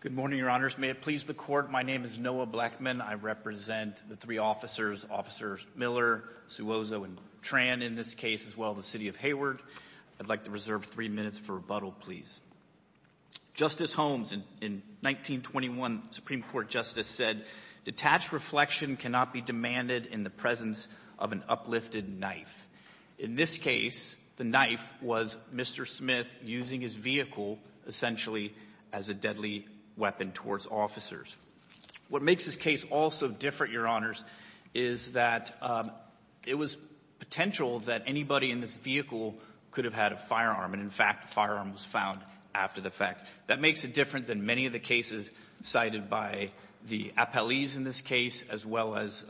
Good morning, Your Honors. May it please the Court, my name is Noah Blackman. I represent the three officers, Officers Miller, Suozo, and Tran, in this case, as well as the City of Hayward. I'd like to reserve three minutes for rebuttal, please. Justice Holmes, in 1921, Supreme Court Justice said, Detached reflection cannot be demanded in the presence of an uplifted knife. In this case, the knife was Mr. Smith using his vehicle, essentially, as a deadly weapon towards officers. What makes this case all so different, Your Honors, is that it was potential that anybody in this vehicle could have had a firearm, and, in fact, a firearm was found after the fact. That makes it different than many of the cases cited by the appellees in this case, as well as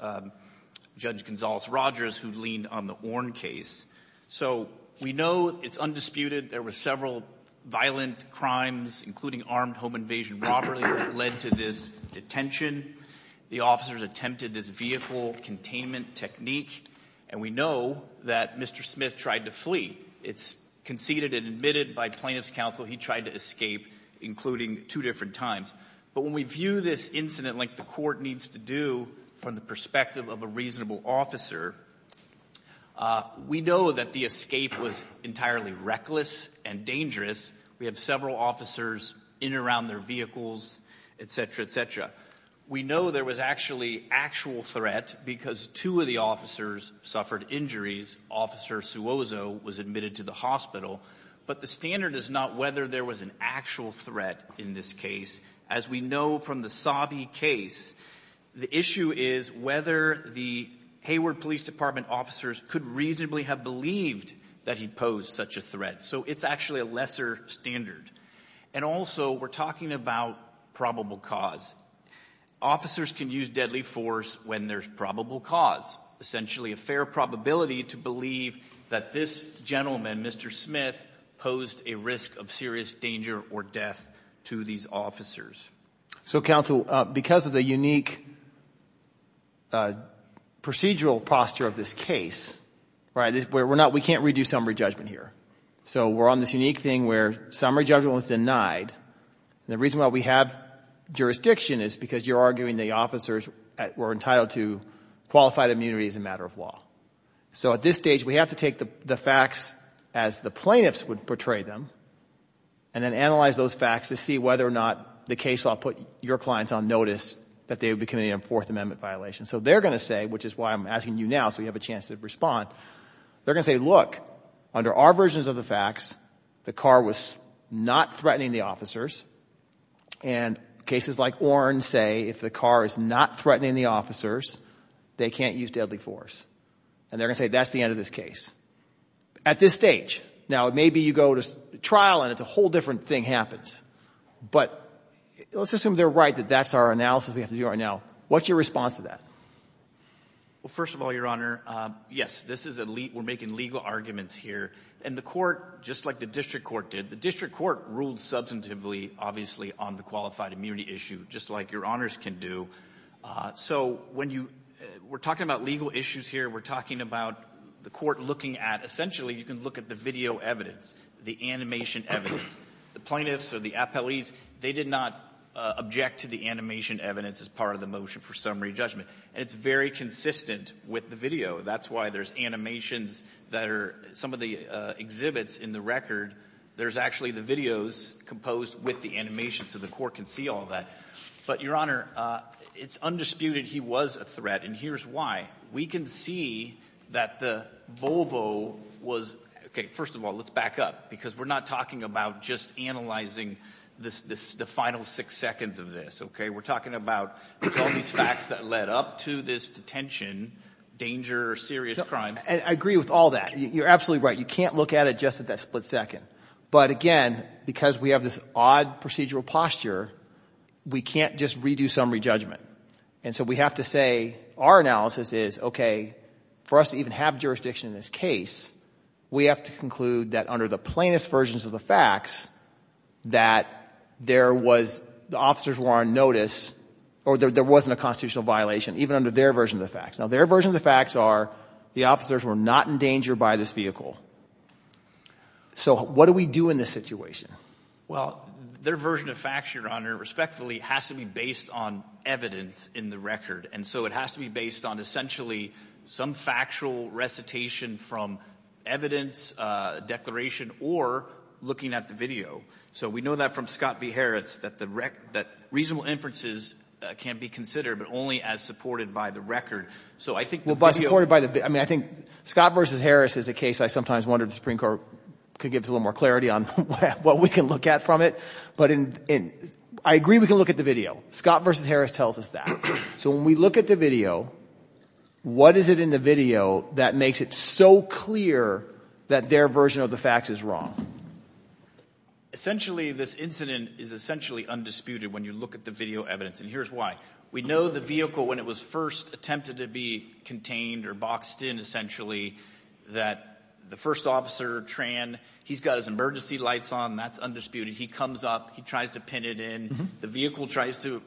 Judge Gonzales-Rogers, who leaned on the Orn case. So, we know it's undisputed there were several violent crimes, including armed home invasion robbery, that led to this detention. The officers attempted this vehicle containment technique, and we know that Mr. Smith tried to flee. It's conceded and admitted by plaintiff's counsel he tried to escape, including two different times. But when we view this incident like the court needs to do from the perspective of a reasonable officer, we know that the escape was entirely reckless and dangerous. We have several officers in and around their vehicles, etc., etc. We know there was actually actual threat because two of the officers suffered injuries. Officer Suozo was admitted to the hospital. But the standard is not whether there was an actual threat in this case. As we know from the Sabi case, the issue is whether the Hayward Police Department officers could reasonably have believed that he posed such a threat. So, it's actually a lesser standard. And also, we're talking about probable cause. Officers can use deadly force when there's probable cause, essentially a fair probability to believe that this gentleman, Mr. Smith, posed a risk of serious danger or death to these officers. So, counsel, because of the unique procedural posture of this case, we can't redo summary judgment here. So, we're on this unique thing where summary judgment was denied. And the reason why we have jurisdiction is because you're arguing the officers were entitled to qualified immunity as a matter of law. So, at this stage, we have to take the facts as the plaintiffs would portray them and then analyze those facts to see whether or not the case law put your clients on notice that they would be committing a Fourth Amendment violation. So, they're going to say, which is why I'm asking you now so you have a chance to respond, they're going to say, look, under our versions of the facts, the car was not threatening the officers. And cases like Oren say if the car is not threatening the officers, they can't use deadly force. And they're going to say that's the end of this case. At this stage, now, maybe you go to trial and it's a whole different thing happens. But let's assume they're right that that's our analysis we have to do right now. What's your response to that? Well, first of all, Your Honor, yes, this is a lead. We're making legal arguments here. And the court, just like the district court did, the district court ruled substantively, obviously, on the qualified immunity issue, just like Your Honors can do. So, when you we're talking about legal issues here, we're talking about the court looking at essentially you can look at the video evidence, the animation evidence. The plaintiffs or the appellees, they did not object to the animation evidence as part of the motion for summary judgment. And it's very consistent with the video. That's why there's animations that are some of the exhibits in the record. There's actually the videos composed with the animation so the court can see all that. But, Your Honor, it's undisputed he was a threat. And here's why. We can see that the Volvo was – okay, first of all, let's back up because we're not talking about just analyzing the final six seconds of this. We're talking about all these facts that led up to this detention, danger, serious crime. I agree with all that. You're absolutely right. You can't look at it just at that split second. But, again, because we have this odd procedural posture, we can't just redo summary judgment. And so we have to say our analysis is, okay, for us to even have jurisdiction in this case, we have to conclude that under the plaintiff's versions of the facts that there was – the officers were on notice or there wasn't a constitutional violation even under their version of the facts. Now, their version of the facts are the officers were not in danger by this vehicle. So what do we do in this situation? Well, their version of facts, Your Honor, respectfully, has to be based on evidence in the record. And so it has to be based on essentially some factual recitation from evidence, declaration, or looking at the video. So we know that from Scott v. Harris that reasonable inferences can't be considered but only as supported by the record. So I think the video – I'm going to give a little more clarity on what we can look at from it. But I agree we can look at the video. Scott v. Harris tells us that. So when we look at the video, what is it in the video that makes it so clear that their version of the facts is wrong? Essentially, this incident is essentially undisputed when you look at the video evidence. And here's why. We know the vehicle when it was first attempted to be contained or boxed in essentially that the first officer, Tran, he's got his emergency lights on. That's undisputed. He comes up. He tries to pin it in. The vehicle tries to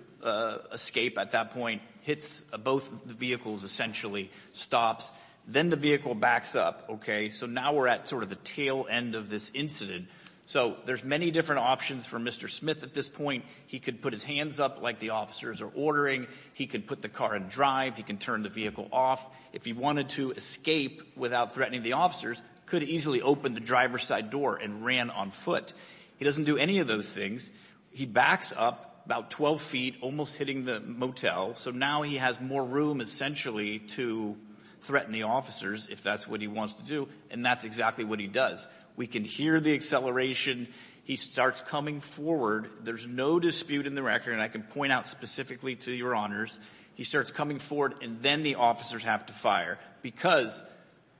escape at that point, hits both vehicles essentially, stops. Then the vehicle backs up. So now we're at sort of the tail end of this incident. So there's many different options for Mr. Smith at this point. He could put his hands up like the officers are ordering. He could put the car in drive. He can turn the vehicle off. If he wanted to escape without threatening the officers, could easily open the driver's side door and ran on foot. He doesn't do any of those things. He backs up about 12 feet, almost hitting the motel. So now he has more room essentially to threaten the officers if that's what he wants to do, and that's exactly what he does. We can hear the acceleration. He starts coming forward. There's no dispute in the record, and I can point out specifically to Your Honors, he starts coming forward, and then the officers have to fire because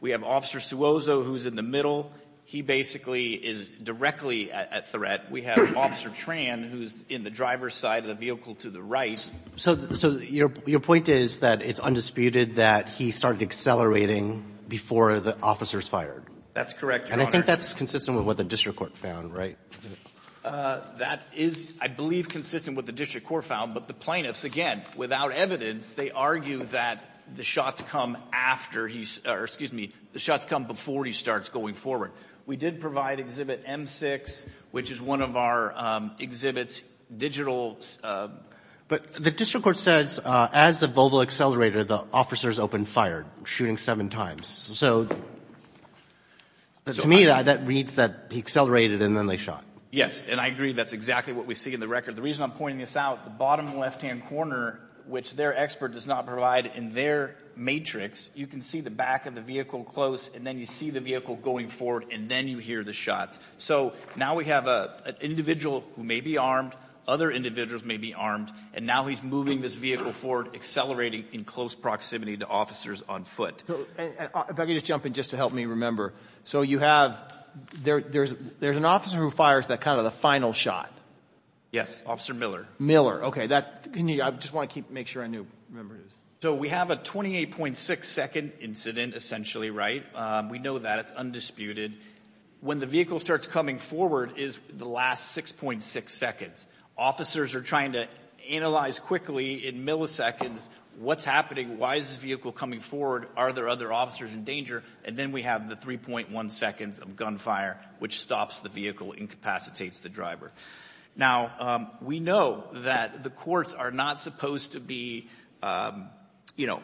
we have Officer Suozo who's in the middle. He basically is directly at threat. We have Officer Tran who's in the driver's side of the vehicle to the right. So your point is that it's undisputed that he started accelerating before the officers fired? That's correct, Your Honor. And I think that's consistent with what the district court found, right? That is, I believe, consistent with what the district court found. But the plaintiffs, again, without evidence, they argue that the shots come after he or, excuse me, the shots come before he starts going forward. We did provide Exhibit M6, which is one of our exhibits, digital. But the district court says as the Volvo accelerated, the officers opened fire, shooting seven times. So to me, that reads that he accelerated and then they shot. And I agree that's exactly what we see in the record. The reason I'm pointing this out, the bottom left-hand corner, which their expert does not provide in their matrix, you can see the back of the vehicle close, and then you see the vehicle going forward, and then you hear the shots. So now we have an individual who may be armed, other individuals may be armed, and now he's moving this vehicle forward, accelerating in close proximity to officers on foot. If I could just jump in just to help me remember. So you have, there's an officer who fires that kind of the final shot. Yes, Officer Miller. Miller, okay. I just want to make sure I know who the member is. So we have a 28.6-second incident, essentially, right? We know that. It's undisputed. When the vehicle starts coming forward is the last 6.6 seconds. Officers are trying to analyze quickly in milliseconds what's happening, why is this vehicle coming forward, are there other officers in danger, and then we have the 3.1 seconds of gunfire, which stops the vehicle, incapacitates the driver. Now, we know that the courts are not supposed to be, you know,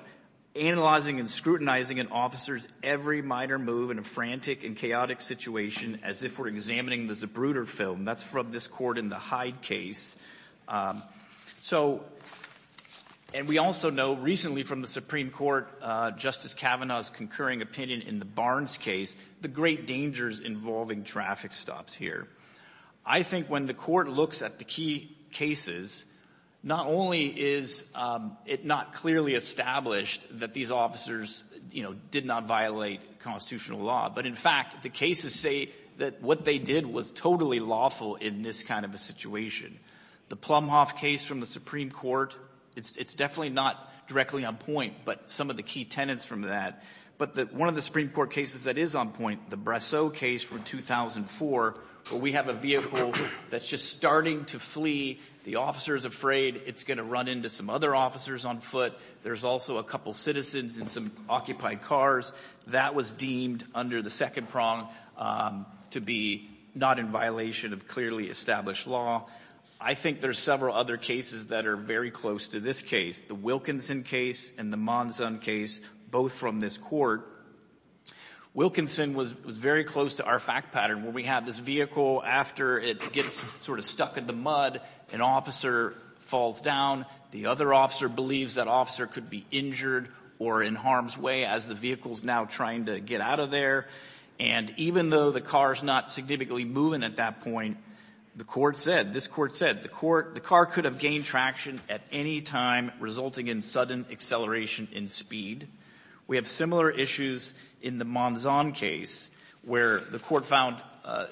analyzing and scrutinizing an officer's every minor move in a frantic and chaotic situation as if we're examining the Zebruder film. That's from this court in the Hyde case. So, and we also know recently from the Supreme Court, Justice Kavanaugh's concurring opinion in the Barnes case, the great dangers involving traffic stops here. I think when the court looks at the key cases, not only is it not clearly established that these officers, you know, did not violate constitutional law, but in fact, the cases say that what they did was totally lawful in this kind of a situation. The Plumhoff case from the Supreme Court, it's definitely not directly on point, but some of the key tenets from that. But one of the Supreme Court cases that is on point, the Brasseau case from 2004, where we have a vehicle that's just starting to flee. The officer's afraid it's going to run into some other officers on foot. There's also a couple citizens in some occupied cars. That was deemed under the second prong to be not in violation of clearly established law. I think there's several other cases that are very close to this case. The Wilkinson case and the Monzon case, both from this court. Wilkinson was very close to our fact pattern, where we have this vehicle after it gets sort of stuck in the mud, an officer falls down. The other officer believes that officer could be injured or in harm's way as the vehicle's now trying to get out of there. And even though the car's not significantly moving at that point, the court said, this court said, the car could have gained traction at any time, resulting in sudden acceleration in speed. We have similar issues in the Monzon case, where the court found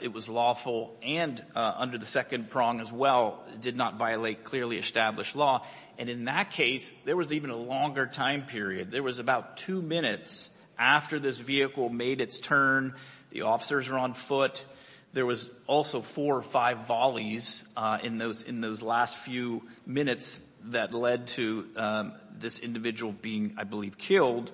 it was lawful and under the second prong as well, did not violate clearly established law. And in that case, there was even a longer time period. There was about two minutes after this vehicle made its turn, the officers were on foot. There was also four or five volleys in those last few minutes that led to this individual being, I believe, killed.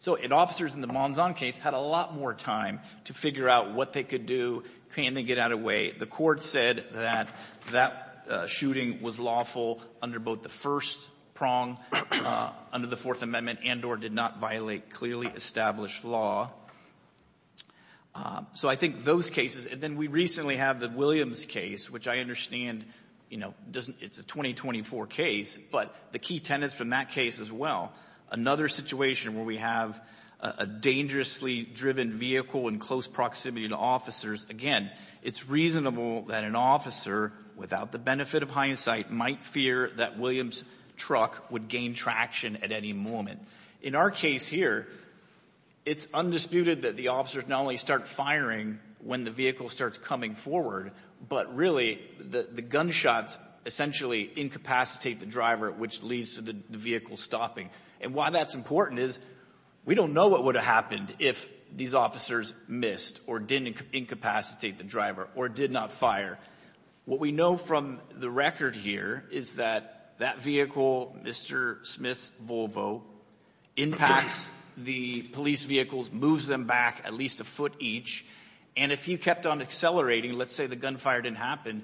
So officers in the Monzon case had a lot more time to figure out what they could do. Can they get out of the way? The court said that that shooting was lawful under both the first prong, under the Fourth Amendment, and or did not violate clearly established law. So I think those cases and then we recently have the Williams case, which I understand, you know, doesn't it's a 2024 case, but the key tenets from that case as well, another situation where we have a dangerously driven vehicle in close proximity to officers. Again, it's reasonable that an officer, without the benefit of hindsight, might fear that Williams' truck would gain traction at any moment. In our case here, it's undisputed that the officers not only start firing when the vehicle starts coming forward, but really the gunshots essentially incapacitate the driver, which leads to the vehicle stopping. And why that's important is we don't know what would have happened if these officers missed or didn't incapacitate the driver or did not fire. What we know from the record here is that that vehicle, Mr. Smith's Volvo, impacts the police vehicles, moves them back at least a foot each. And if he kept on accelerating, let's say the gunfire didn't happen,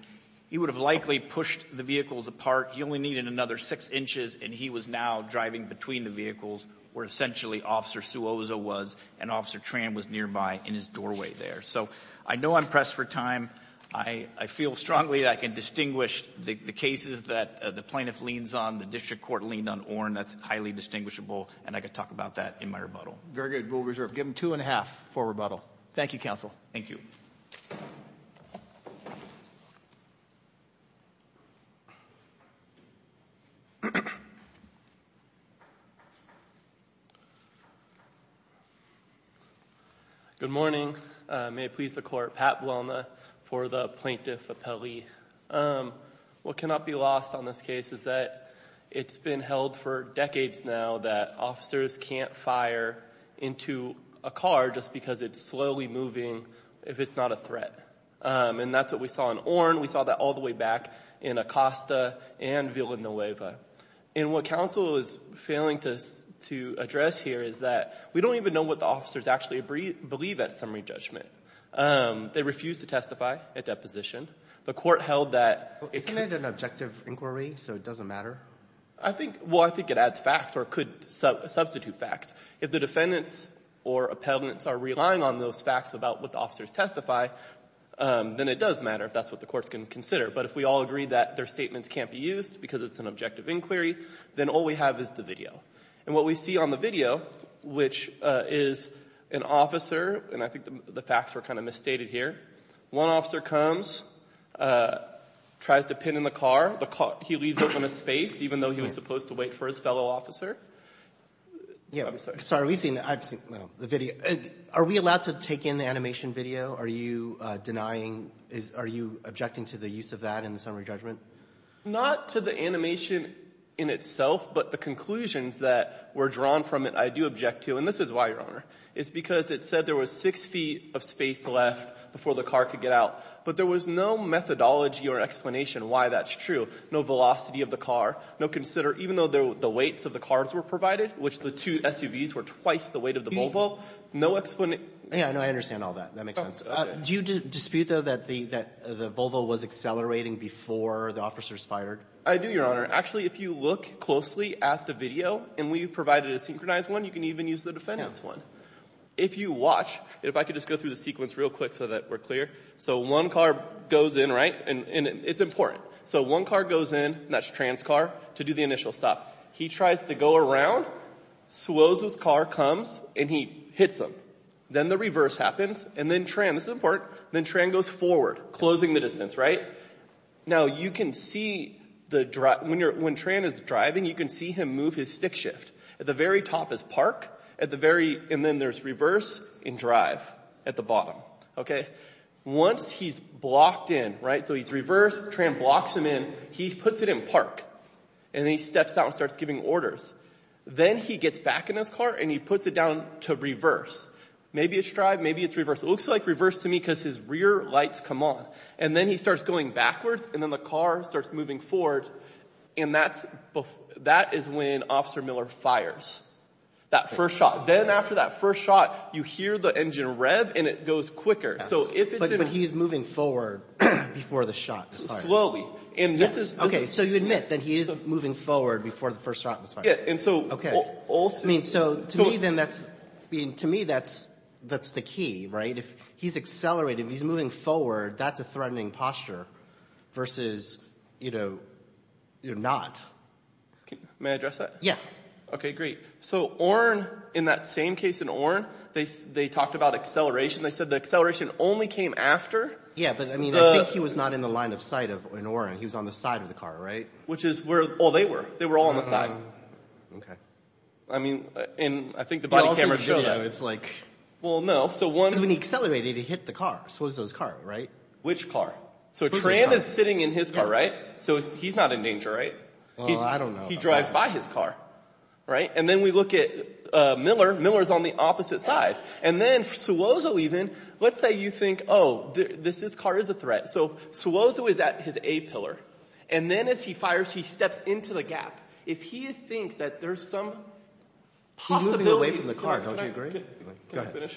he would have likely pushed the vehicles apart. He only needed another six inches and he was now driving between the vehicles where essentially Officer Suoza was and Officer Tran was nearby in his doorway there. So I know I'm pressed for time. I feel strongly that I can distinguish the cases that the plaintiff leans on, the district court leaned on Oren, that's highly distinguishable, and I could talk about that in my rebuttal. Very good. We'll reserve. Give him two and a half for rebuttal. Thank you, counsel. Thank you. Good morning. May it please the court. Pat Bloma for the Plaintiff Appellee. What cannot be lost on this case is that it's been held for decades now that officers can't fire into a car just because it's slowly moving if it's not a threat. And that's what we saw in Oren. We saw that all the way back in Acosta and Villanueva. And what counsel is failing to address here is that we don't even know what the officers actually believe at summary judgment. They refused to testify at deposition. The court held that... Isn't it an objective inquiry, so it doesn't matter? Well, I think it adds facts or could substitute facts. If the defendants or appellants are relying on those facts about what the officers testify, then it does matter if that's what the courts can consider. But if we all agree that their statements can't be used because it's an objective inquiry, then all we have is the video. And what we see on the facts were kind of misstated here. One officer comes, tries to pin in the car. He leaves open a space, even though he was supposed to wait for his fellow officer. I'm sorry. Sorry. Are we seeing the video? Are we allowed to take in the animation video? Are you denying? Are you objecting to the use of that in the summary judgment? Not to the animation in itself, but the conclusions that were drawn from it, I do object to. And this is why, Your Honor. It's because it said there was six feet of space left before the car could get out. But there was no methodology or explanation why that's true. No velocity of the car. No consider... Even though the weights of the cars were provided, which the two SUVs were twice the weight of the Volvo, no explanation... Yeah, I know. I understand all that. That makes sense. Do you dispute, though, that the Volvo was accelerating before the officers fired? I do, Your Honor. Actually, if you look closely at the video, and we provided a video, which is the defense one, if you watch... If I could just go through the sequence real quick so that we're clear. So one car goes in, right? And it's important. So one car goes in, and that's Tran's car, to do the initial stop. He tries to go around, slows his car, comes, and he hits him. Then the reverse happens, and then Tran... This is important. Then Tran goes forward, closing the distance, right? Now, you can see... When Tran is driving, you can see him move his stick shift. At the very top is park. At the very... And then there's reverse and drive at the bottom, okay? Once he's blocked in, right? So he's reversed. Tran blocks him in. He puts it in park, and then he steps out and starts giving orders. Then he gets back in his car, and he puts it down to reverse. Maybe it's drive. Maybe it's reverse. It looks like reverse to me because his rear lights come on. And then he starts going backwards, and then the car starts moving forward. And that is when Officer Miller fires that first shot. Then after that first shot, you hear the engine rev, and it goes quicker. So if it's... But he's moving forward before the shot. Slowly. And this is... Okay, so you admit that he is moving forward before the first shot was fired. Yeah, and so... Okay. I mean, so to me then that's... I mean, to me that's the key, right? If he's accelerated, if he's moving forward, that's a threatening posture versus, you know, you're not. May I address that? Yeah. Okay, great. So Orin, in that same case in Orin, they talked about acceleration. They said the acceleration only came after... Yeah, but I mean, I think he was not in the line of sight in Orin. He was on the side of the car, right? Which is where all they were. They were all on the side. Okay. I mean, and I think the body cameras show that. It's like... Well, no, so one... Because when he accelerated, he hit the car. So it was his car, right? Which car? So Trant is sitting in his car, right? So he's not in danger, right? Well, I don't know. He drives by his car, right? And then we look at Miller. Miller's on the opposite side. And then Suloso even, let's say you think, oh, this car is a threat. So Suloso is at his A pillar. And then as he fires, he steps into the gap. If he thinks that there's some possibility... He's moving away from the car. Don't you agree?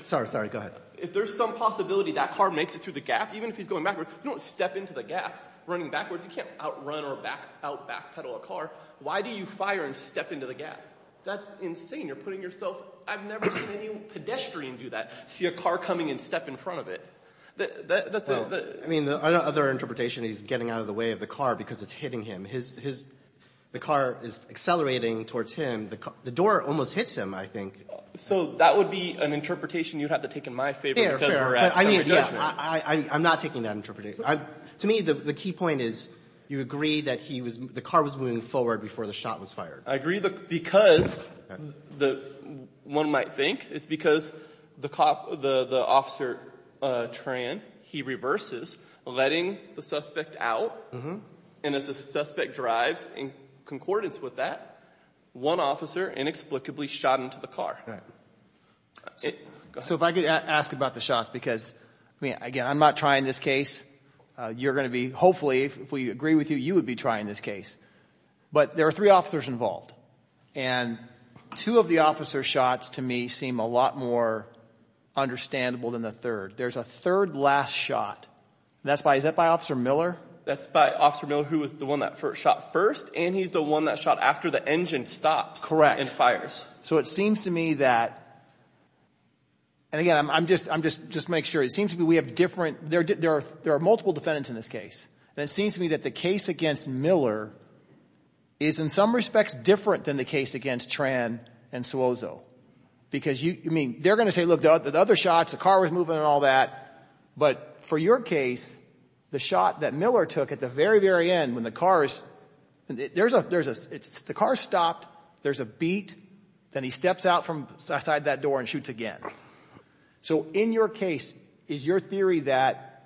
Sorry, sorry. Go ahead. If there's some possibility that car makes it through the gap, even if he's going backwards, you don't step into the gap running backwards. You can't outrun or out-backpedal a car. Why do you fire and step into the gap? That's insane. You're putting yourself... I've never seen any pedestrian do that. See a car coming and step in front of it. That's a... I mean, another interpretation, he's getting out of the way of the car because it's hitting him. The car is accelerating towards him. The door almost hits him, I think. So that would be an interpretation you'd have to take in my favor. I'm not taking that interpretation. To me, the key point is you agree that the car was moving forward before the shot was fired. I agree because one might think it's because the officer, Tran, he reverses, letting the suspect out. And as the suspect drives in concordance with that, one officer inexplicably shot into the car. So if I could ask about the shots because, I mean, again, I'm not trying this case. You're going to be, hopefully, if we agree with you, you would be trying this case. But there are three officers involved. And two of the officer's shots, to me, seem a lot more understandable than the third. There's a third last shot. Is that by Officer Miller? That's by Officer Miller, who was the one that shot first, and he's the one that shot after the engine stops and fires. So it seems to me that, and again, I'm just making sure. It seems to me we have different, there are multiple defendants in this case. And it seems to me that the case against Miller is, in some respects, different than the case against Tran and Suozo. Because, I mean, they're going to say, look, the other shots, the car was moving and all that. But for your case, the shot that Miller took at the very, very end when the car is, there's a, the car stopped, there's a beat. Then he steps outside that door and shoots again. So in your case, is your theory that,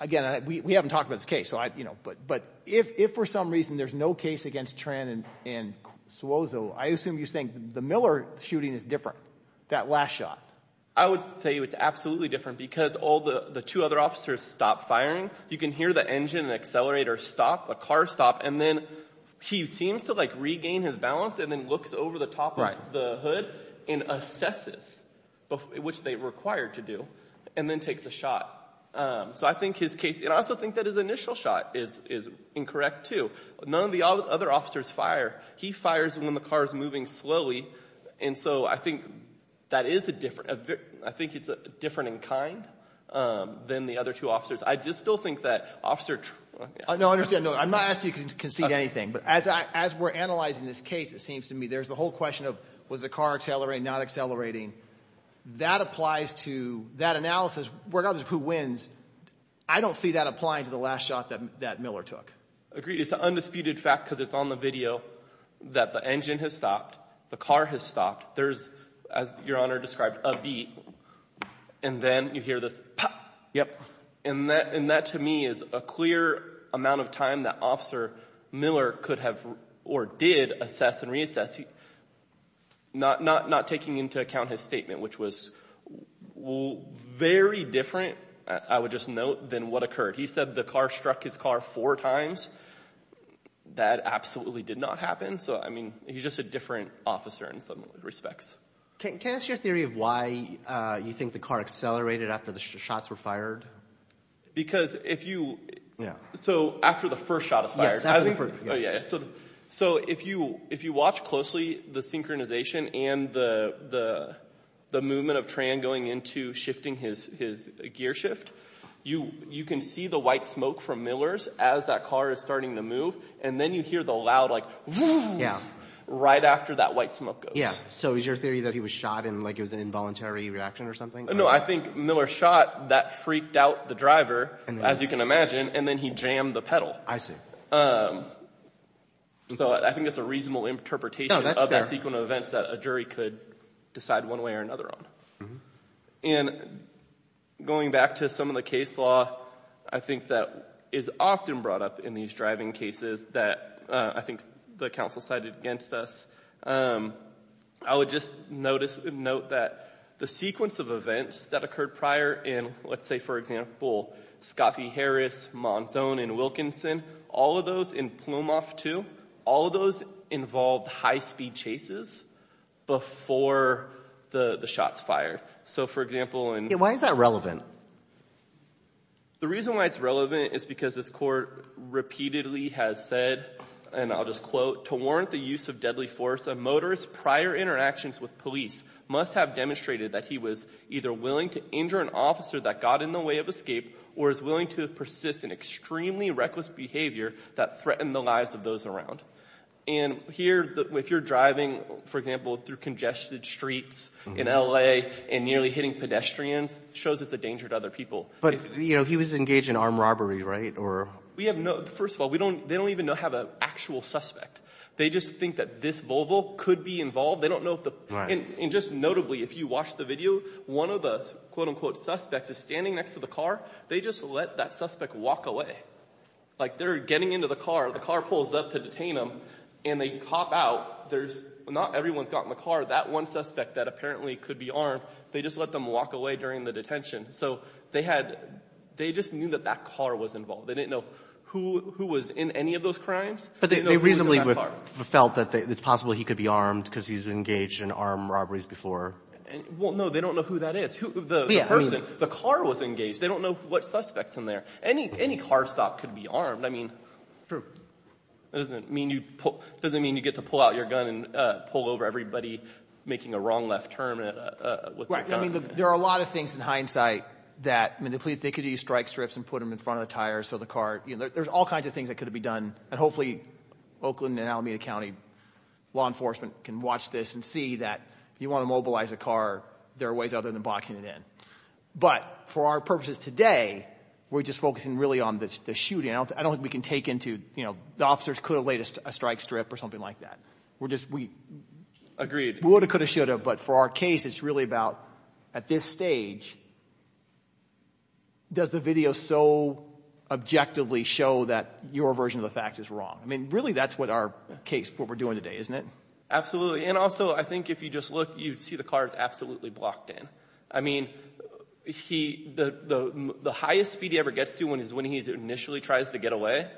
again, we haven't talked about this case. But if for some reason there's no case against Tran and Suozo, I assume you think the Miller shooting is different, that last shot. I would say it's absolutely different because all the two other officers stopped firing. You can hear the engine and accelerator stop, the car stop, and then he seems to regain his balance and then looks over the top of the hood and assesses, which they were required to do, and then takes a shot. So I think his case, and I also think that his initial shot is incorrect too. None of the other officers fire. He fires when the car is moving slowly. And so I think that is a different, I think it's different in kind than the other two officers. I just still think that Officer Tran. No, I understand. I'm not asking you to concede anything. But as we're analyzing this case, it seems to me there's the whole question of was the car accelerating, not accelerating. That applies to that analysis. Regardless of who wins, I don't see that applying to the last shot that Miller took. Agreed. It's an undisputed fact because it's on the video that the engine has stopped, the car has stopped. There's, as Your Honor described, a beep, and then you hear this pop. And that to me is a clear amount of time that Officer Miller could have or did assess and reassess, not taking into account his statement, which was very different, I would just note, than what occurred. He said the car struck his car four times. That absolutely did not happen. So, I mean, he's just a different officer in some respects. Can I ask your theory of why you think the car accelerated after the shots were fired? Because if you, so after the first shot is fired. So if you watch closely the synchronization and the movement of Tran going into shifting his gear shift, you can see the white smoke from Miller's as that car is starting to move. And then you hear the loud, like, whoosh, right after that white smoke goes. So is your theory that he was shot and it was an involuntary reaction or something? No, I think Miller shot. That freaked out the driver, as you can imagine, and then he jammed the pedal. I see. So I think it's a reasonable interpretation of that sequence of events that a jury could decide one way or another on. And going back to some of the case law, I think that is often brought up in these driving cases that I think the counsel cited against us. I would just note that the sequence of events that occurred prior in, let's say, for example, Scott v. Harris, Monzon and Wilkinson, all of those in Plumhoff II, all of those involved high-speed chases before the shots fired. So, for example, in— Why is that relevant? The reason why it's relevant is because this court repeatedly has said, and I'll just quote, to warrant the use of deadly force, a motorist's prior interactions with police must have demonstrated that he was either willing to injure an officer that got in the way of escape or is willing to persist in extremely reckless behavior that threatened the lives of those around. And here, if you're driving, for example, through congested streets in L.A. and nearly hitting pedestrians, it shows it's a danger to other people. But, you know, he was engaged in armed robbery, right? We have no—first of all, they don't even have an actual suspect. They just think that this Volvo could be involved. They don't know if the— Right. And just notably, if you watch the video, one of the quote-unquote suspects is standing next to the car. They just let that suspect walk away. Like they're getting into the car. The car pulls up to detain them, and they cop out. There's—not everyone's got in the car. That one suspect that apparently could be armed, they just let them walk away during the detention. So they had—they just knew that that car was involved. They didn't know who was in any of those crimes. But they reasonably felt that it's possible he could be armed because he's engaged in armed robberies before. Well, no, they don't know who that is. The person—the car was engaged. They don't know what suspect's in there. Any car stop could be armed. I mean— True. It doesn't mean you get to pull out your gun and pull over everybody making a wrong left turn. Right. I mean there are a lot of things in hindsight that— I mean the police, they could use strike strips and put them in front of the tires so the car— there's all kinds of things that could be done. And hopefully Oakland and Alameda County law enforcement can watch this and see that if you want to mobilize a car, there are ways other than boxing it in. But for our purposes today, we're just focusing really on the shooting. I don't think we can take into—the officers could have laid a strike strip or something like that. We're just—we— Agreed. We would have, could have, should have. But for our case, it's really about at this stage, does the video so objectively show that your version of the fact is wrong? I mean really that's what our case—what we're doing today, isn't it? Absolutely. And also I think if you just look, you see the car is absolutely blocked in. I mean he—the highest speed he ever gets to is when he initially tries to get away,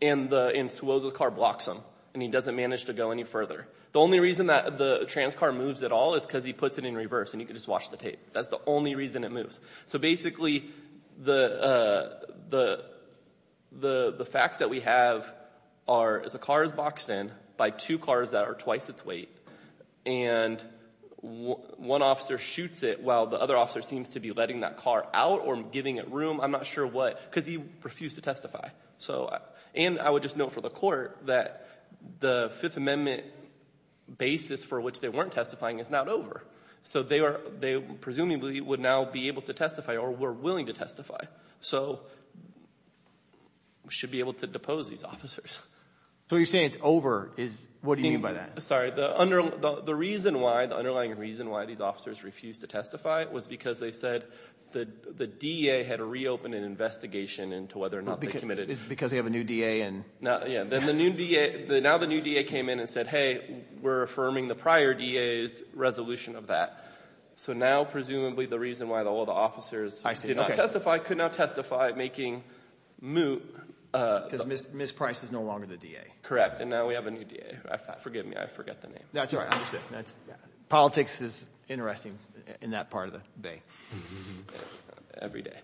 and Suoza's car blocks him and he doesn't manage to go any further. The only reason that the trans car moves at all is because he puts it in reverse and you can just watch the tape. That's the only reason it moves. So basically the facts that we have are as a car is boxed in by two cars that are twice its weight, and one officer shoots it while the other officer seems to be letting that car out or giving it room. I'm not sure what, because he refused to testify. So—and I would just note for the court that the Fifth Amendment basis for which they weren't testifying is not over. So they are—they presumably would now be able to testify or were willing to testify. So we should be able to depose these officers. So you're saying it's over is—what do you mean by that? Sorry. The reason why, the underlying reason why these officers refused to testify was because they said the DA had reopened an investigation into whether or not they committed— Because they have a new DA and— Yeah. Then the new DA—now the new DA came in and said, hey, we're affirming the prior DA's resolution of that. So now presumably the reason why all the officers did not testify could now testify making moot— Because Ms. Price is no longer the DA. Correct. And now we have a new DA. Forgive me. I forget the name. That's all right. I understand. Politics is interesting in that part of the Bay. Every day.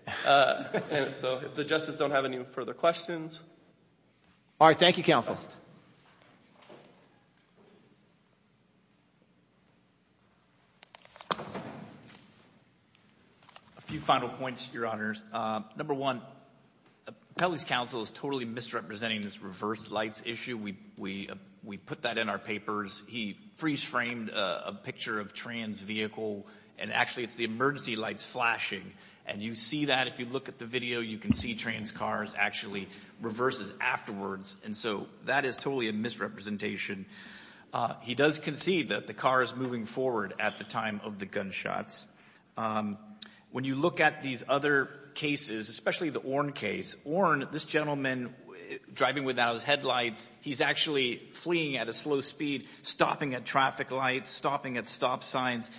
So if the justices don't have any further questions— All right. Thank you, counsel. A few final points, Your Honors. Number one, Kelly's counsel is totally misrepresenting this reverse lights issue. We put that in our papers. He freeze-framed a picture of a trans vehicle, and actually it's the emergency lights flashing. And you see that. If you look at the video, you can see trans cars actually reverses afterwards. And so that is totally a misrepresentation. He does concede that the car is moving forward at the time of the gunshots. When you look at these other cases, especially the Orn case, Orn, this gentleman driving without his headlights, he's actually fleeing at a slow speed, stopping at traffic lights, stopping at stop signs.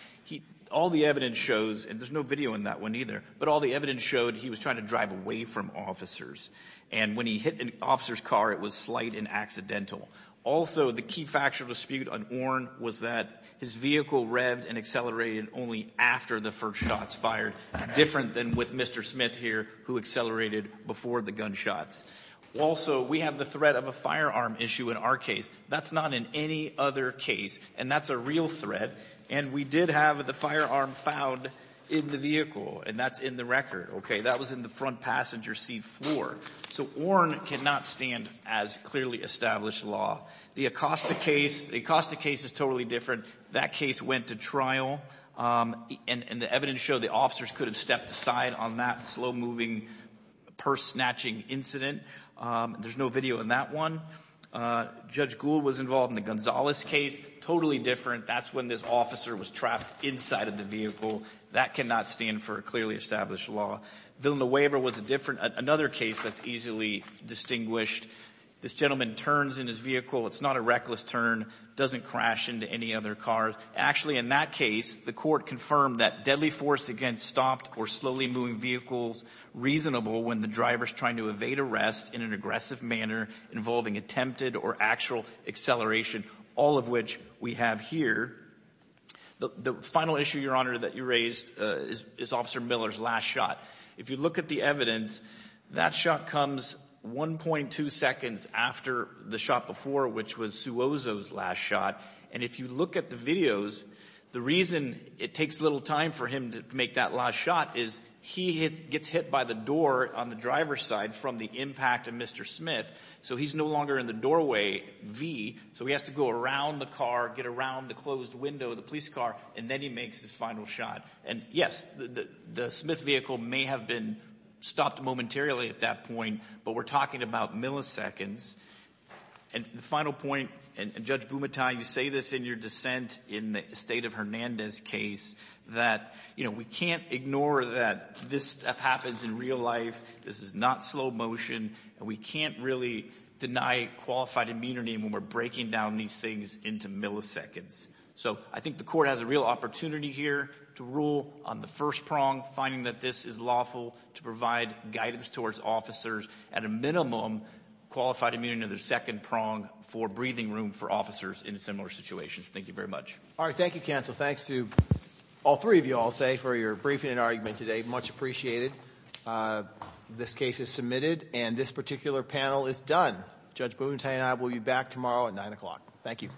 All the evidence shows—and there's no video in that one either— but all the evidence showed he was trying to drive away from officers. And when he hit an officer's car, it was slight and accidental. Also, the key factual dispute on Orn was that his vehicle revved and accelerated only after the first shots fired, different than with Mr. Smith here, who accelerated before the gunshots. Also, we have the threat of a firearm issue in our case. That's not in any other case, and that's a real threat. And we did have the firearm found in the vehicle, and that's in the record. That was in the front passenger seat floor. So Orn cannot stand as clearly established law. The Acosta case, the Acosta case is totally different. That case went to trial. And the evidence showed the officers could have stepped aside on that slow-moving, purse-snatching incident. There's no video in that one. Judge Gould was involved in the Gonzalez case. Totally different. That's when this officer was trapped inside of the vehicle. That cannot stand for clearly established law. Villanueva was different. Another case that's easily distinguished. This gentleman turns in his vehicle. It's not a reckless turn. Doesn't crash into any other car. Actually, in that case, the court confirmed that deadly force against stopped or slowly moving vehicles reasonable when the driver's trying to evade arrest in an aggressive manner involving attempted or actual acceleration, all of which we have here. The final issue, Your Honor, that you raised is Officer Miller's last shot. If you look at the evidence, that shot comes 1.2 seconds after the shot before, which was Suozo's last shot. And if you look at the videos, the reason it takes little time for him to make that last shot is he gets hit by the door on the driver's side from the impact of Mr. Smith, so he's no longer in the doorway, V, so he has to go around the car, get around the closed window of the police car, and then he makes his final shot. And, yes, the Smith vehicle may have been stopped momentarily at that point, but we're talking about milliseconds. And the final point, and, Judge Bumatang, you say this in your dissent in the State of Hernandez case, that, you know, we can't ignore that this stuff happens in real life. This is not slow motion, and we can't really deny qualified immunity when we're breaking down these things into milliseconds. So I think the court has a real opportunity here to rule on the first prong, finding that this is lawful to provide guidance towards officers at a minimum, qualified immunity in the second prong for breathing room for officers in similar situations. Thank you very much. All right, thank you, counsel. Thanks to all three of you, I'll say, for your briefing and argument today. Much appreciated. This case is submitted, and this particular panel is done. Judge Bumatang and I will be back tomorrow at 9 o'clock. Thank you.